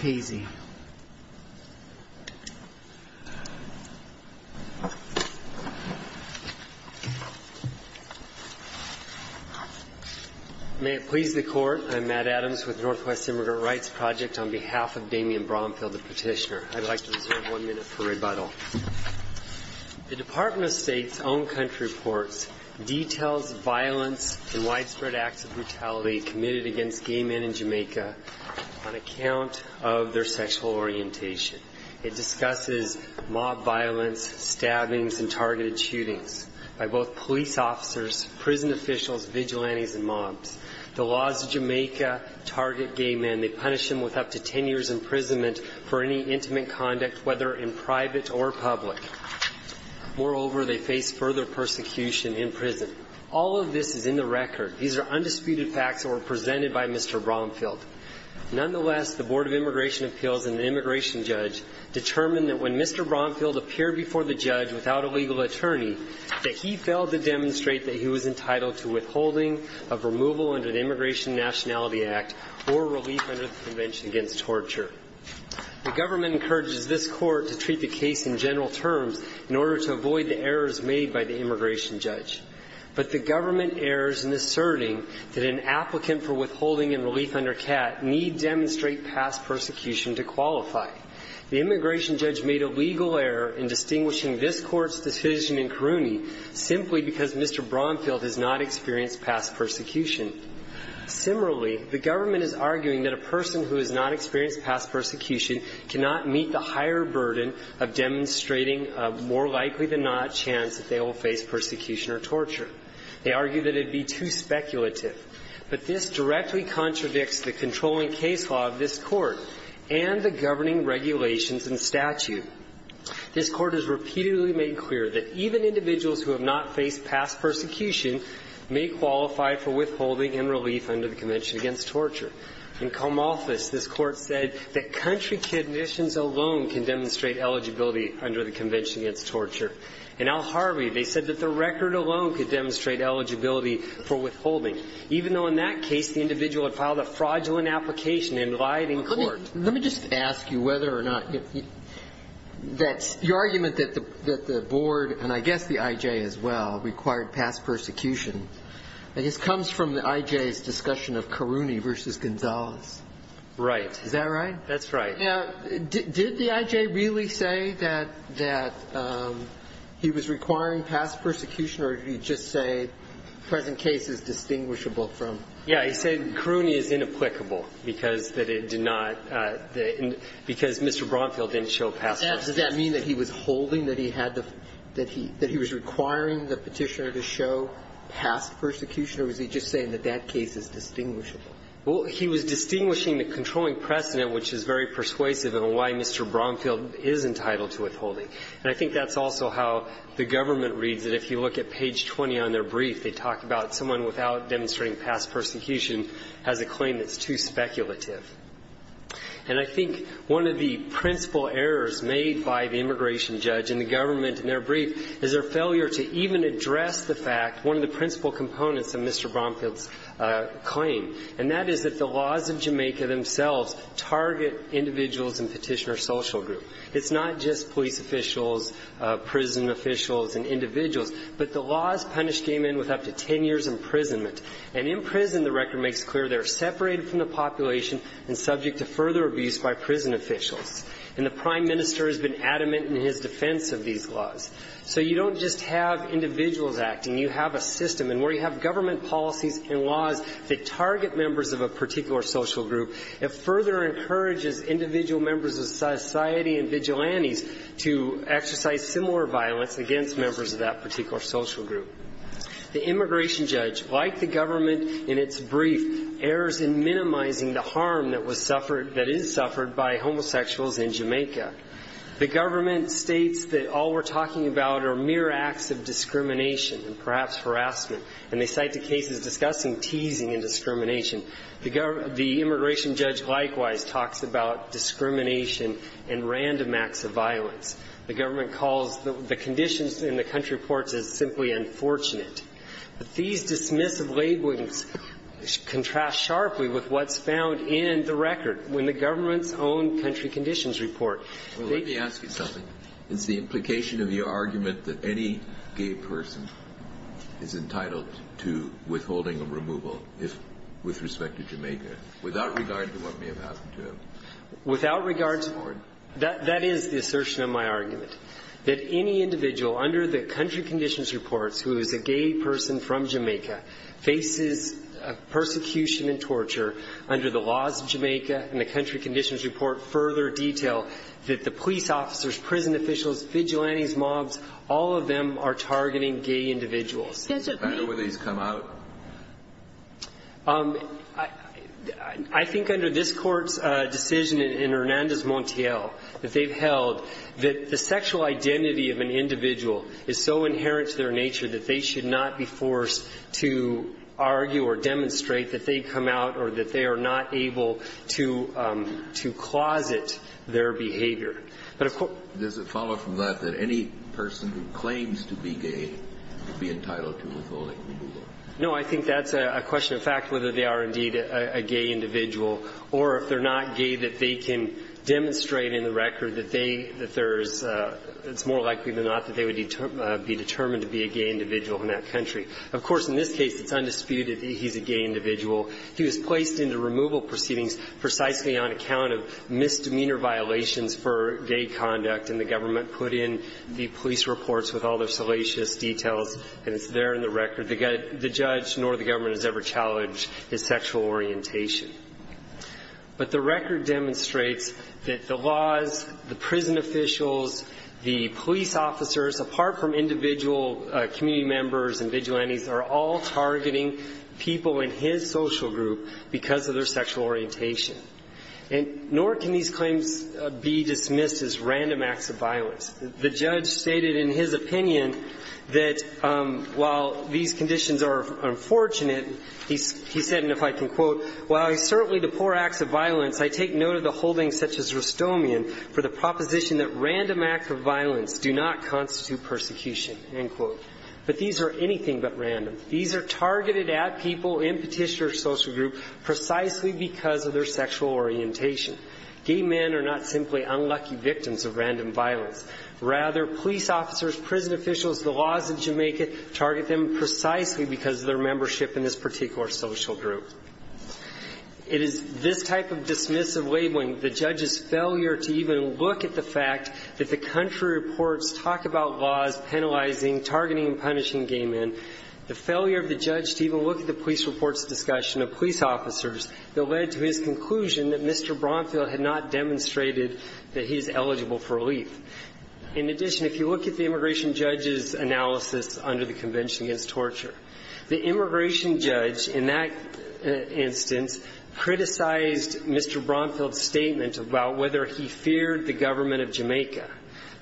May it please the Court, I'm Matt Adams with Northwest Immigrant Rights Project on behalf of Damian Bromfield, the petitioner. I'd like to reserve one minute for rebuttal. The Department of State's own country reports details violence and widespread acts of brutality committed against gay men in Jamaica on account of their sexual orientation. It discusses mob violence, stabbings, and targeted shootings by both police officers, prison officials, vigilantes, and mobs. The laws of Jamaica target gay men. They punish them with up to ten years imprisonment for any intimate conduct, whether in private or public. Moreover, they face further persecution in prison. All of this is in the record. These are undisputed facts that were presented by Mr. Bromfield. Nonetheless, the Board of Immigration Appeals and the immigration judge determined that when Mr. Bromfield appeared before the judge without a legal attorney, that he failed to demonstrate that he was entitled to withholding of removal under the Immigration and Nationality Act or relief under the Convention Against Torture. The government encourages this Court to treat the case in general terms in order to avoid the errors made by the immigration judge. But the government errs in asserting that an applicant for withholding and relief under CAT need demonstrate past persecution to qualify. The immigration judge made a legal error in distinguishing this Court's decision in Caruni simply because Mr. Bromfield has not experienced past persecution. Similarly, the government is arguing that a person who has not experienced past persecution cannot meet the higher burden of demonstrating a more likely-than-not chance that they will face persecution or torture. They argue that it would be too speculative. But this directly contradicts the controlling case law of this Court and the governing regulations and statute. This Court has repeatedly made clear that even individuals who have not faced past persecution may qualify for withholding and relief under the Convention Against Torture. In Comalthus, this Court said that country conditions alone can demonstrate eligibility under the Convention Against Torture. In Al Harvey, they said that the record alone could demonstrate eligibility for withholding, even though in that case the individual had filed a fraudulent application and lied in court. Let me just ask you whether or not that's the argument that the Board, and I guess the I.J. as well, required past persecution. I guess it comes from the I.J.'s discussion of Caruni v. Gonzales. Right. Is that right? That's right. Now, did the I.J. really say that he was requiring past persecution, or did he just say the present case is distinguishable from? Yes. He said Caruni is inapplicable, because that it did not – because Mr. Bromfield didn't show past persecution. Does that mean that he was holding that he had the – that he was requiring the Petitioner to show past persecution, or was he just saying that that case is distinguishable? Well, he was distinguishing the controlling precedent, which is very persuasive in why Mr. Bromfield is entitled to withholding. And I think that's also how the government reads it. If you look at page 20 on their brief, they talk about someone without demonstrating past persecution has a claim that's too speculative. And I think one of the principal errors made by the immigration judge and the government in their brief is their failure to even address the fact, one of the principal components of Mr. Bromfield's claim. And that is that the laws of Jamaica themselves target individuals in Petitioner Social Group. It's not just police officials, prison officials, and individuals. But the laws punish gay men with up to 10 years imprisonment. And in prison, the record makes clear they're separated from the population and subject to further abuse by prison officials. And the Prime Minister has been adamant in his defense of these laws. So you don't just have individuals acting. You have a system. And where you have government policies and laws that target members of a particular social group, it further encourages individual members of society and vigilantes to exercise similar violence against members of that particular social group. The immigration judge, like the government in its brief, errs in minimizing the harm that was suffered, that is suffered by homosexuals in Jamaica. The government states that all we're talking about are mere acts of discrimination and perhaps harassment. And they cite the cases discussing teasing and discrimination. The immigration judge likewise talks about discrimination and random acts of violence. The government calls the conditions in the country reports as simply unfortunate. These dismissive labelings contrast sharply with what's found in the record when the government's own country conditions report. They do not. Is entitled to withholding of removal if, with respect to Jamaica, without regard to what may have happened to him. Without regard to, that is the assertion of my argument, that any individual under the country conditions reports who is a gay person from Jamaica faces persecution and torture under the laws of Jamaica and the country conditions report further detail that the police officers, prison officials, vigilantes, mobs, all of them are targeting gay individuals. Sotomayor, where these come out? I think under this Court's decision in Hernandez-Montiel that they've held, that the sexual identity of an individual is so inherent to their nature that they should not be forced to argue or demonstrate that they come out or that they are not able to, to closet their behavior. But of course. Does it follow from that that any person who claims to be gay should be entitled to withholding removal? No. I think that's a question of fact, whether they are indeed a gay individual or if they're not gay, that they can demonstrate in the record that they, that there's, it's more likely than not that they would be determined to be a gay individual in that country. Of course, in this case, it's undisputed that he's a gay individual. He was placed into removal proceedings precisely on account of misdemeanor violations for gay conduct, and the government put in the police reports with all their salacious details, and it's there in the record. The judge nor the government has ever challenged his sexual orientation. But the record demonstrates that the laws, the prison officials, the police officers, apart from individual community members and vigilantes, are all targeting people in his social group because of their sexual orientation. And nor can these claims be dismissed as random acts of violence. The judge stated in his opinion that while these conditions are unfortunate, he said, and if I can quote, "...while I certainly depor acts of violence, I take note of the holdings such as Rustomian for the proposition that random acts of violence do not constitute persecution." But these are anything but random. These are targeted at people in Petitioner's social group precisely because of their sexual orientation. Gay men are not simply unlucky victims of random violence. Rather, police officers, prison officials, the laws of Jamaica target them precisely because of their membership in this particular social group. It is this type of dismissive labeling, the judge's failure to even look at the fact that the country reports talk about laws penalizing, targeting, and punishing gay men, the failure of the judge to even look at the police reports discussion of police officers that led to his conclusion that Mr. Bromfield had not demonstrated that he is eligible for relief. In addition, if you look at the immigration judge's analysis under the Convention Against Torture, the immigration judge in that instance criticized Mr. Bromfield's statement about whether he feared the government of Jamaica.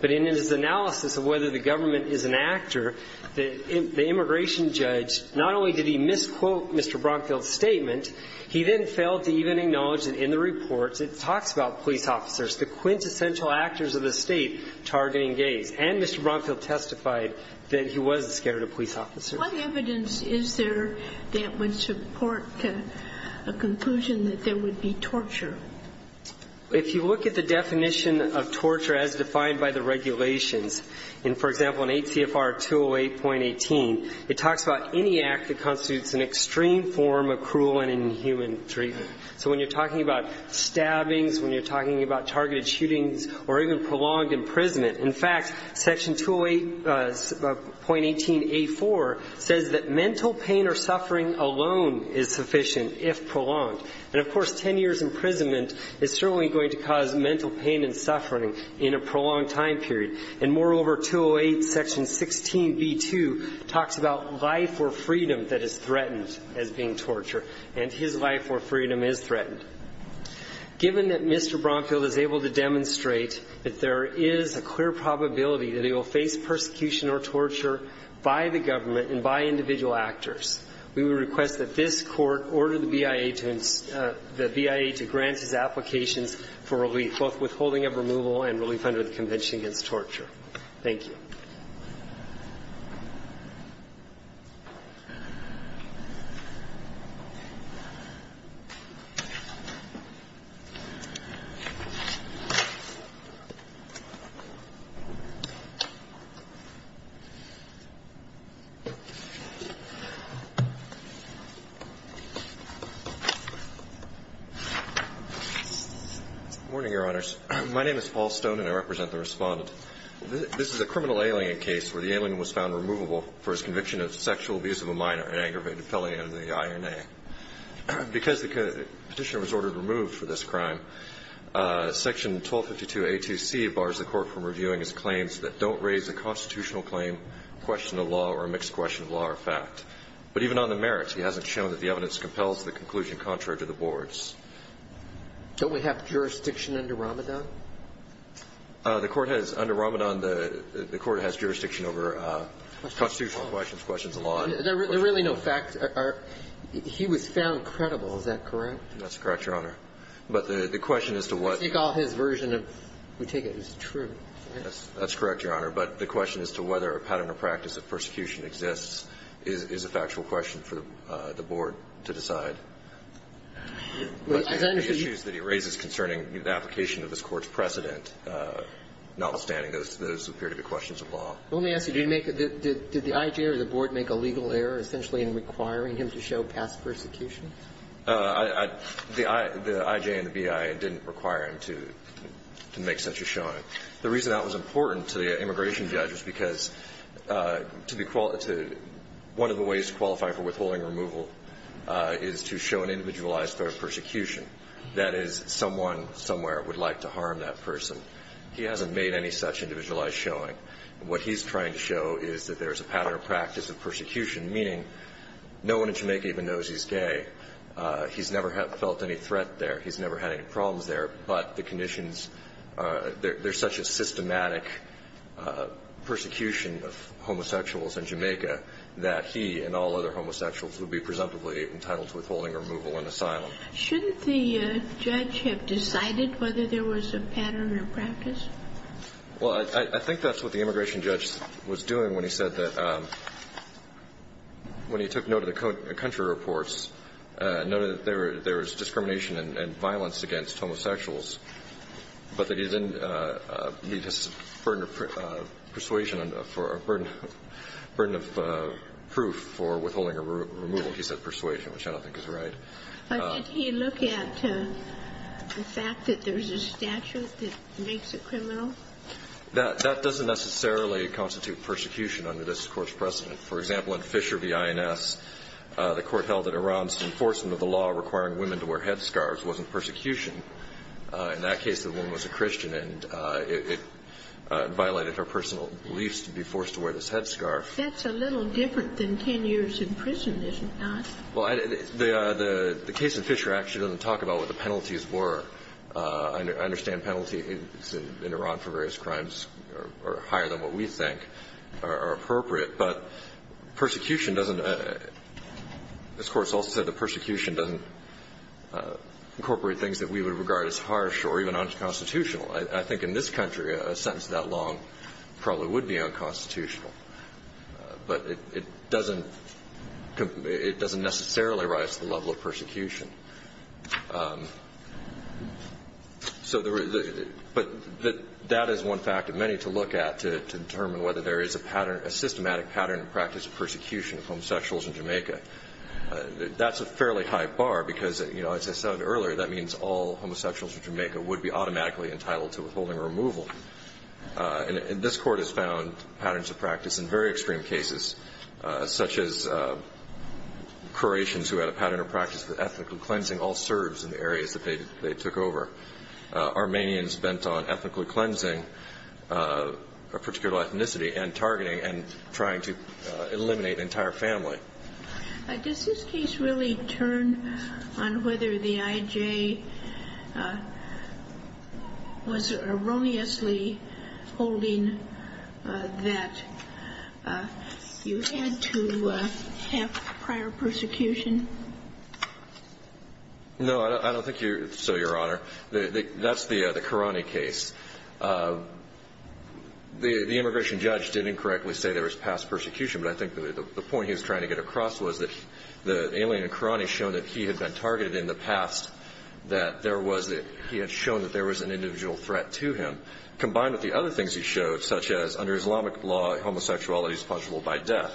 But in his analysis of whether the government is an actor, the immigration judge not only did he misquote Mr. He then failed to even acknowledge that in the reports it talks about police officers, the quintessential actors of the state targeting gays. And Mr. Bromfield testified that he wasn't scared of police officers. What evidence is there that would support a conclusion that there would be torture? If you look at the definition of torture as defined by the regulations, and for example in 8 CFR 208.18, it talks about any act that constitutes an extreme form of cruel and inhuman treatment. So when you're talking about stabbings, when you're talking about targeted shootings, or even prolonged imprisonment, in fact, section 208.18A4 says that mental pain or suffering alone is sufficient if prolonged. And of course, ten years imprisonment is certainly going to cause mental pain and suffering in a prolonged time period. And moreover, 208 section 16B2 talks about life or torture, and his life or freedom is threatened. Given that Mr. Bromfield is able to demonstrate that there is a clear probability that he will face persecution or torture by the government and by individual actors, we would request that this court order the BIA to grant his applications for relief, both withholding of removal and relief under the Convention Against Torture. Thank you. Mr. Stone. Morning, Your Honors. My name is Paul Stone, and I represent the Respondent. This is a criminal alien case where the alien was found removable for his conviction of sexual abuse of a minor, an aggravated felony under the INA. Because the petitioner was ordered removed for this crime, section 1252A2C bars the court from reviewing his claims that don't raise a constitutional claim, question of law, or a mixed question of law or fact. But even on the merits, he hasn't shown that the evidence compels the conclusion contrary to the board's. Don't we have jurisdiction under Ramadan? The court has, under Ramadan, the court has jurisdiction over constitutional questions, questions of law and questions of fact. There are really no facts. He was found credible. Is that correct? That's correct, Your Honor. But the question as to what he called his version of, we take it as true. That's correct, Your Honor. But the question as to whether a pattern or practice of persecution exists is a factual question for the board to decide. But the issues that he raises concerning the application of this Court's precedent, notwithstanding, those appear to be questions of law. Well, let me ask you, did you make a, did the I.J. or the board make a legal error essentially in requiring him to show past persecution? I, the I.J. and the B.I. didn't require him to make such a showing. The reason that was important to the immigration judge was because to be, one of the ways to qualify for withholding removal is to show an individualized threat of persecution. That is, someone somewhere would like to harm that person. He hasn't made any such individualized showing. What he's trying to show is that there's a pattern or practice of persecution, meaning no one in Jamaica even knows he's gay. He's never felt any threat there. He's never had any problems there. But the conditions, there's such a systematic persecution of homosexuals in Jamaica that he and all other homosexuals would be presumptively entitled to withholding removal and asylum. Shouldn't the judge have decided whether there was a pattern or practice? Well, I think that's what the immigration judge was doing when he said that when he took note of the country reports, noted that there was discrimination and violence against homosexuals, but that he didn't need his burden of persuasion or burden of proof for withholding removal. He said persuasion, which I don't think is right. But did he look at the fact that there's a statute that makes it criminal? That doesn't necessarily constitute persecution under this Court's precedent. For example, in Fisher v. INS, the Court held that Iran's enforcement of the law requiring women to wear headscarves wasn't persecution. In that case, the woman was a Christian, and it violated her personal beliefs to be forced to wear this headscarf. That's a little different than 10 years in prison, isn't it? Well, the case in Fisher actually doesn't talk about what the penalties were. I understand penalties in Iran for various crimes are higher than what we think are appropriate. But persecution doesn't – this Court's also said that persecution doesn't incorporate things that we would regard as harsh or even unconstitutional. I think in this country, a sentence that long probably would be unconstitutional. But it doesn't necessarily rise to the level of persecution. But that is one fact of many to look at to determine whether there is a pattern – a systematic pattern and practice of persecution of homosexuals in Jamaica. That's a fairly high bar because, you know, as I said earlier, that means all homosexuals in Jamaica would be automatically entitled to withholding removal. And this Court has found patterns of practice in very extreme cases, such as Croatians who had a pattern of practice of ethnically cleansing all Serbs in the areas that they took over. Armenians bent on ethnically cleansing a particular ethnicity and targeting and trying to eliminate an entire family. Does this case really turn on whether the I.J. was erroneously holding that you had to have prior persecution? No, I don't think so, Your Honor. That's the Karani case. The immigration judge did incorrectly say there was past persecution, but I think the point he was trying to get across was that the alien in Karani showed that he had been targeted in the past, that he had shown that there was an individual threat to him, combined with the other things he showed, such as under Islamic law, homosexuality is punishable by death.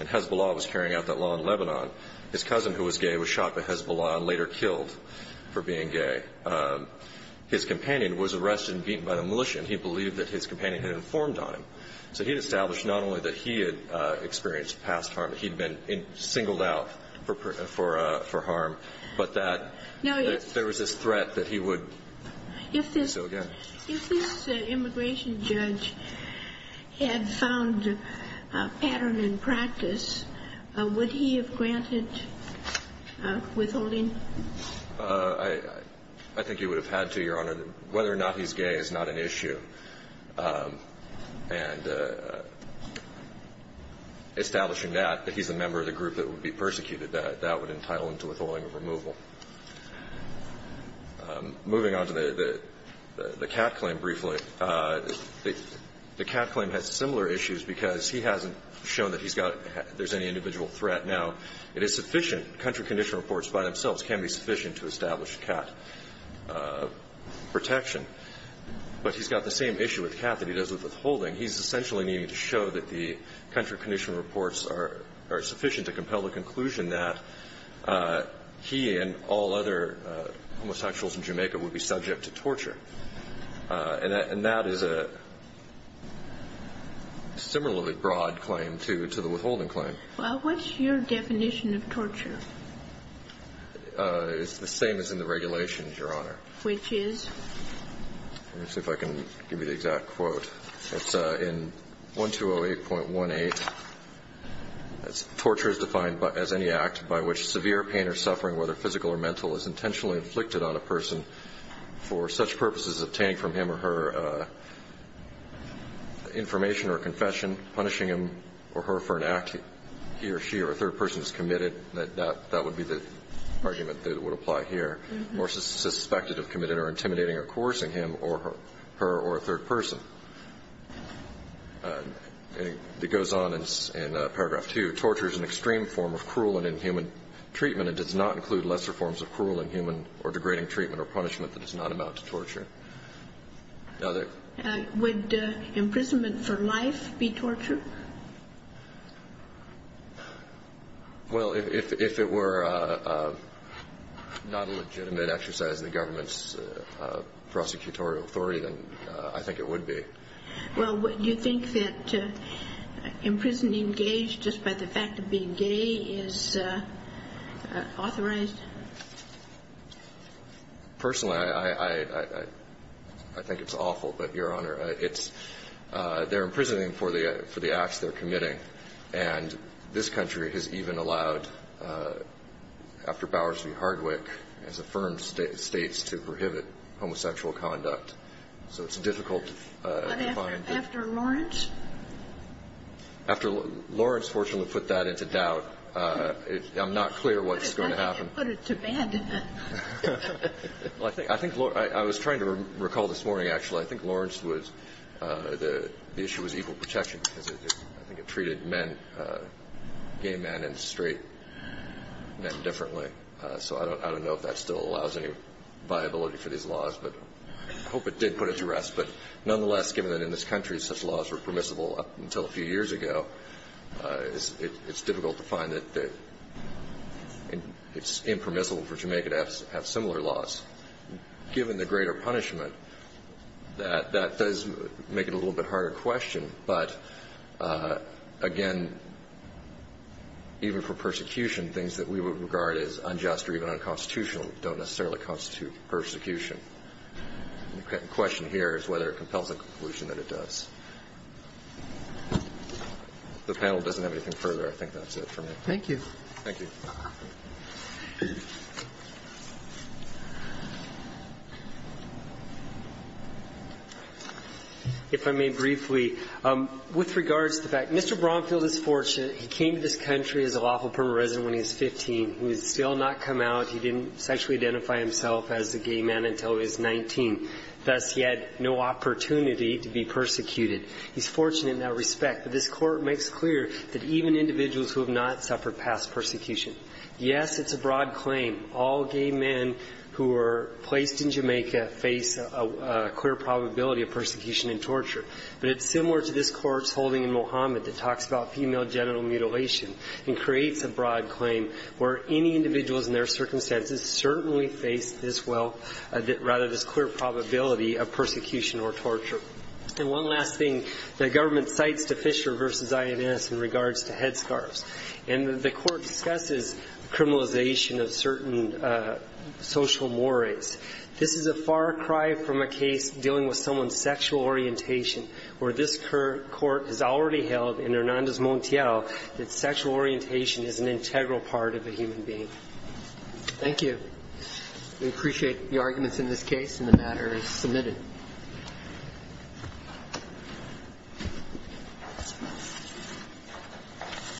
And Hezbollah was carrying out that law in Lebanon. His cousin, who was gay, was shot by Hezbollah and later killed for being gay. His companion was arrested and beaten by the militia, and he believed that his companion had informed on him. So he had established not only that he had experienced past harm, he'd been singled out for harm, but that there was this threat that he would do it again. If this immigration judge had found a pattern in practice, would he have granted withholding? I think he would have had to, Your Honor. Whether or not he's gay is not an issue. And establishing that he's a member of the group that would be persecuted, that would entitle him to withholding of removal. Moving on to the cat claim briefly, the cat claim has similar issues because he hasn't shown that there's any individual threat. Now, it is sufficient, country condition reports by themselves can be sufficient to establish cat protection. But he's got the same issue with cat that he does with withholding. He's essentially needing to show that the country condition reports are sufficient to compel the conclusion that he and all other homosexuals in Jamaica would be subject to torture. And that is a similarly broad claim to the withholding claim. Well, what's your definition of torture? It's the same as in the regulations, Your Honor. Which is? Let me see if I can give you the exact quote. It's in 1208.18. Torture is defined as any act by which severe pain or suffering, whether physical or mental, is intentionally inflicted on a person for such purposes as obtaining from him or her information or confession, punishing him or her for an act he or she or a third person has committed. That would be the argument that would apply here. Or suspected of committing or intimidating or coercing him or her or a third person. It goes on in paragraph two. Torture is an extreme form of cruel and inhuman treatment and does not include lesser forms of cruel and inhuman or degrading treatment or punishment that is not about to torture. Would imprisonment for life be torture? Well, if it were not a legitimate exercise of the government's prosecutorial authority, then I think it would be. Well, do you think that imprisoning gays just by the fact of being gay is authorized? Personally, I think it's awful. But, Your Honor, it's, they're imprisoning for the act of torturing a person for the acts they're committing. And this country has even allowed, after Bowers v. Hardwick, has affirmed states to prohibit homosexual conduct. So it's difficult to find. But after Lawrence? After Lawrence, fortunately, put that into doubt. I'm not clear what's going to happen. I think it put it to bed. Well, I think Lawrence, I was trying to recall this morning, actually. I think Lawrence was, the issue was equal protection because I think it treated men, gay men and straight men differently. So I don't know if that still allows any viability for these laws. But I hope it did put it to rest. But nonetheless, given that in this country such laws were permissible up until a few years ago, it's difficult to find that it's impermissible for Jamaica to have similar laws. Given the greater punishment, that does make it a little bit harder to question. But again, even for persecution, things that we would regard as unjust or even unconstitutional don't necessarily constitute persecution. The question here is whether it compels a conclusion that it does. The panel doesn't have anything further. I think that's it for me. Thank you. Thank you. If I may briefly, with regards to the fact, Mr. Bromfield is fortunate. He came to this country as a lawful permanent resident when he was 15. He has still not come out. He didn't sexually identify himself as a gay man until he was 19. Thus, he had no opportunity to be persecuted. He's fortunate in that respect. But this Court makes clear that even individuals who have not suffered past persecution, yes, it's a broad claim. All gay men who are placed in Jamaica face a clear probability of persecution and torture. But it's similar to this Court's holding in Mohammed that talks about female genital mutilation and creates a broad claim where any individuals in their circumstances certainly face this well or rather this clear probability of persecution or torture. And one last thing. The government cites the Fisher v. INS in regards to headscarves. And the Court discusses criminalization of certain social mores. This is a far cry from a case dealing with someone's sexual orientation, where this Court has already held in Hernandez Montiel that sexual orientation is an integral part of a human being. Thank you. We appreciate the arguments in this case. And the matter is submitted.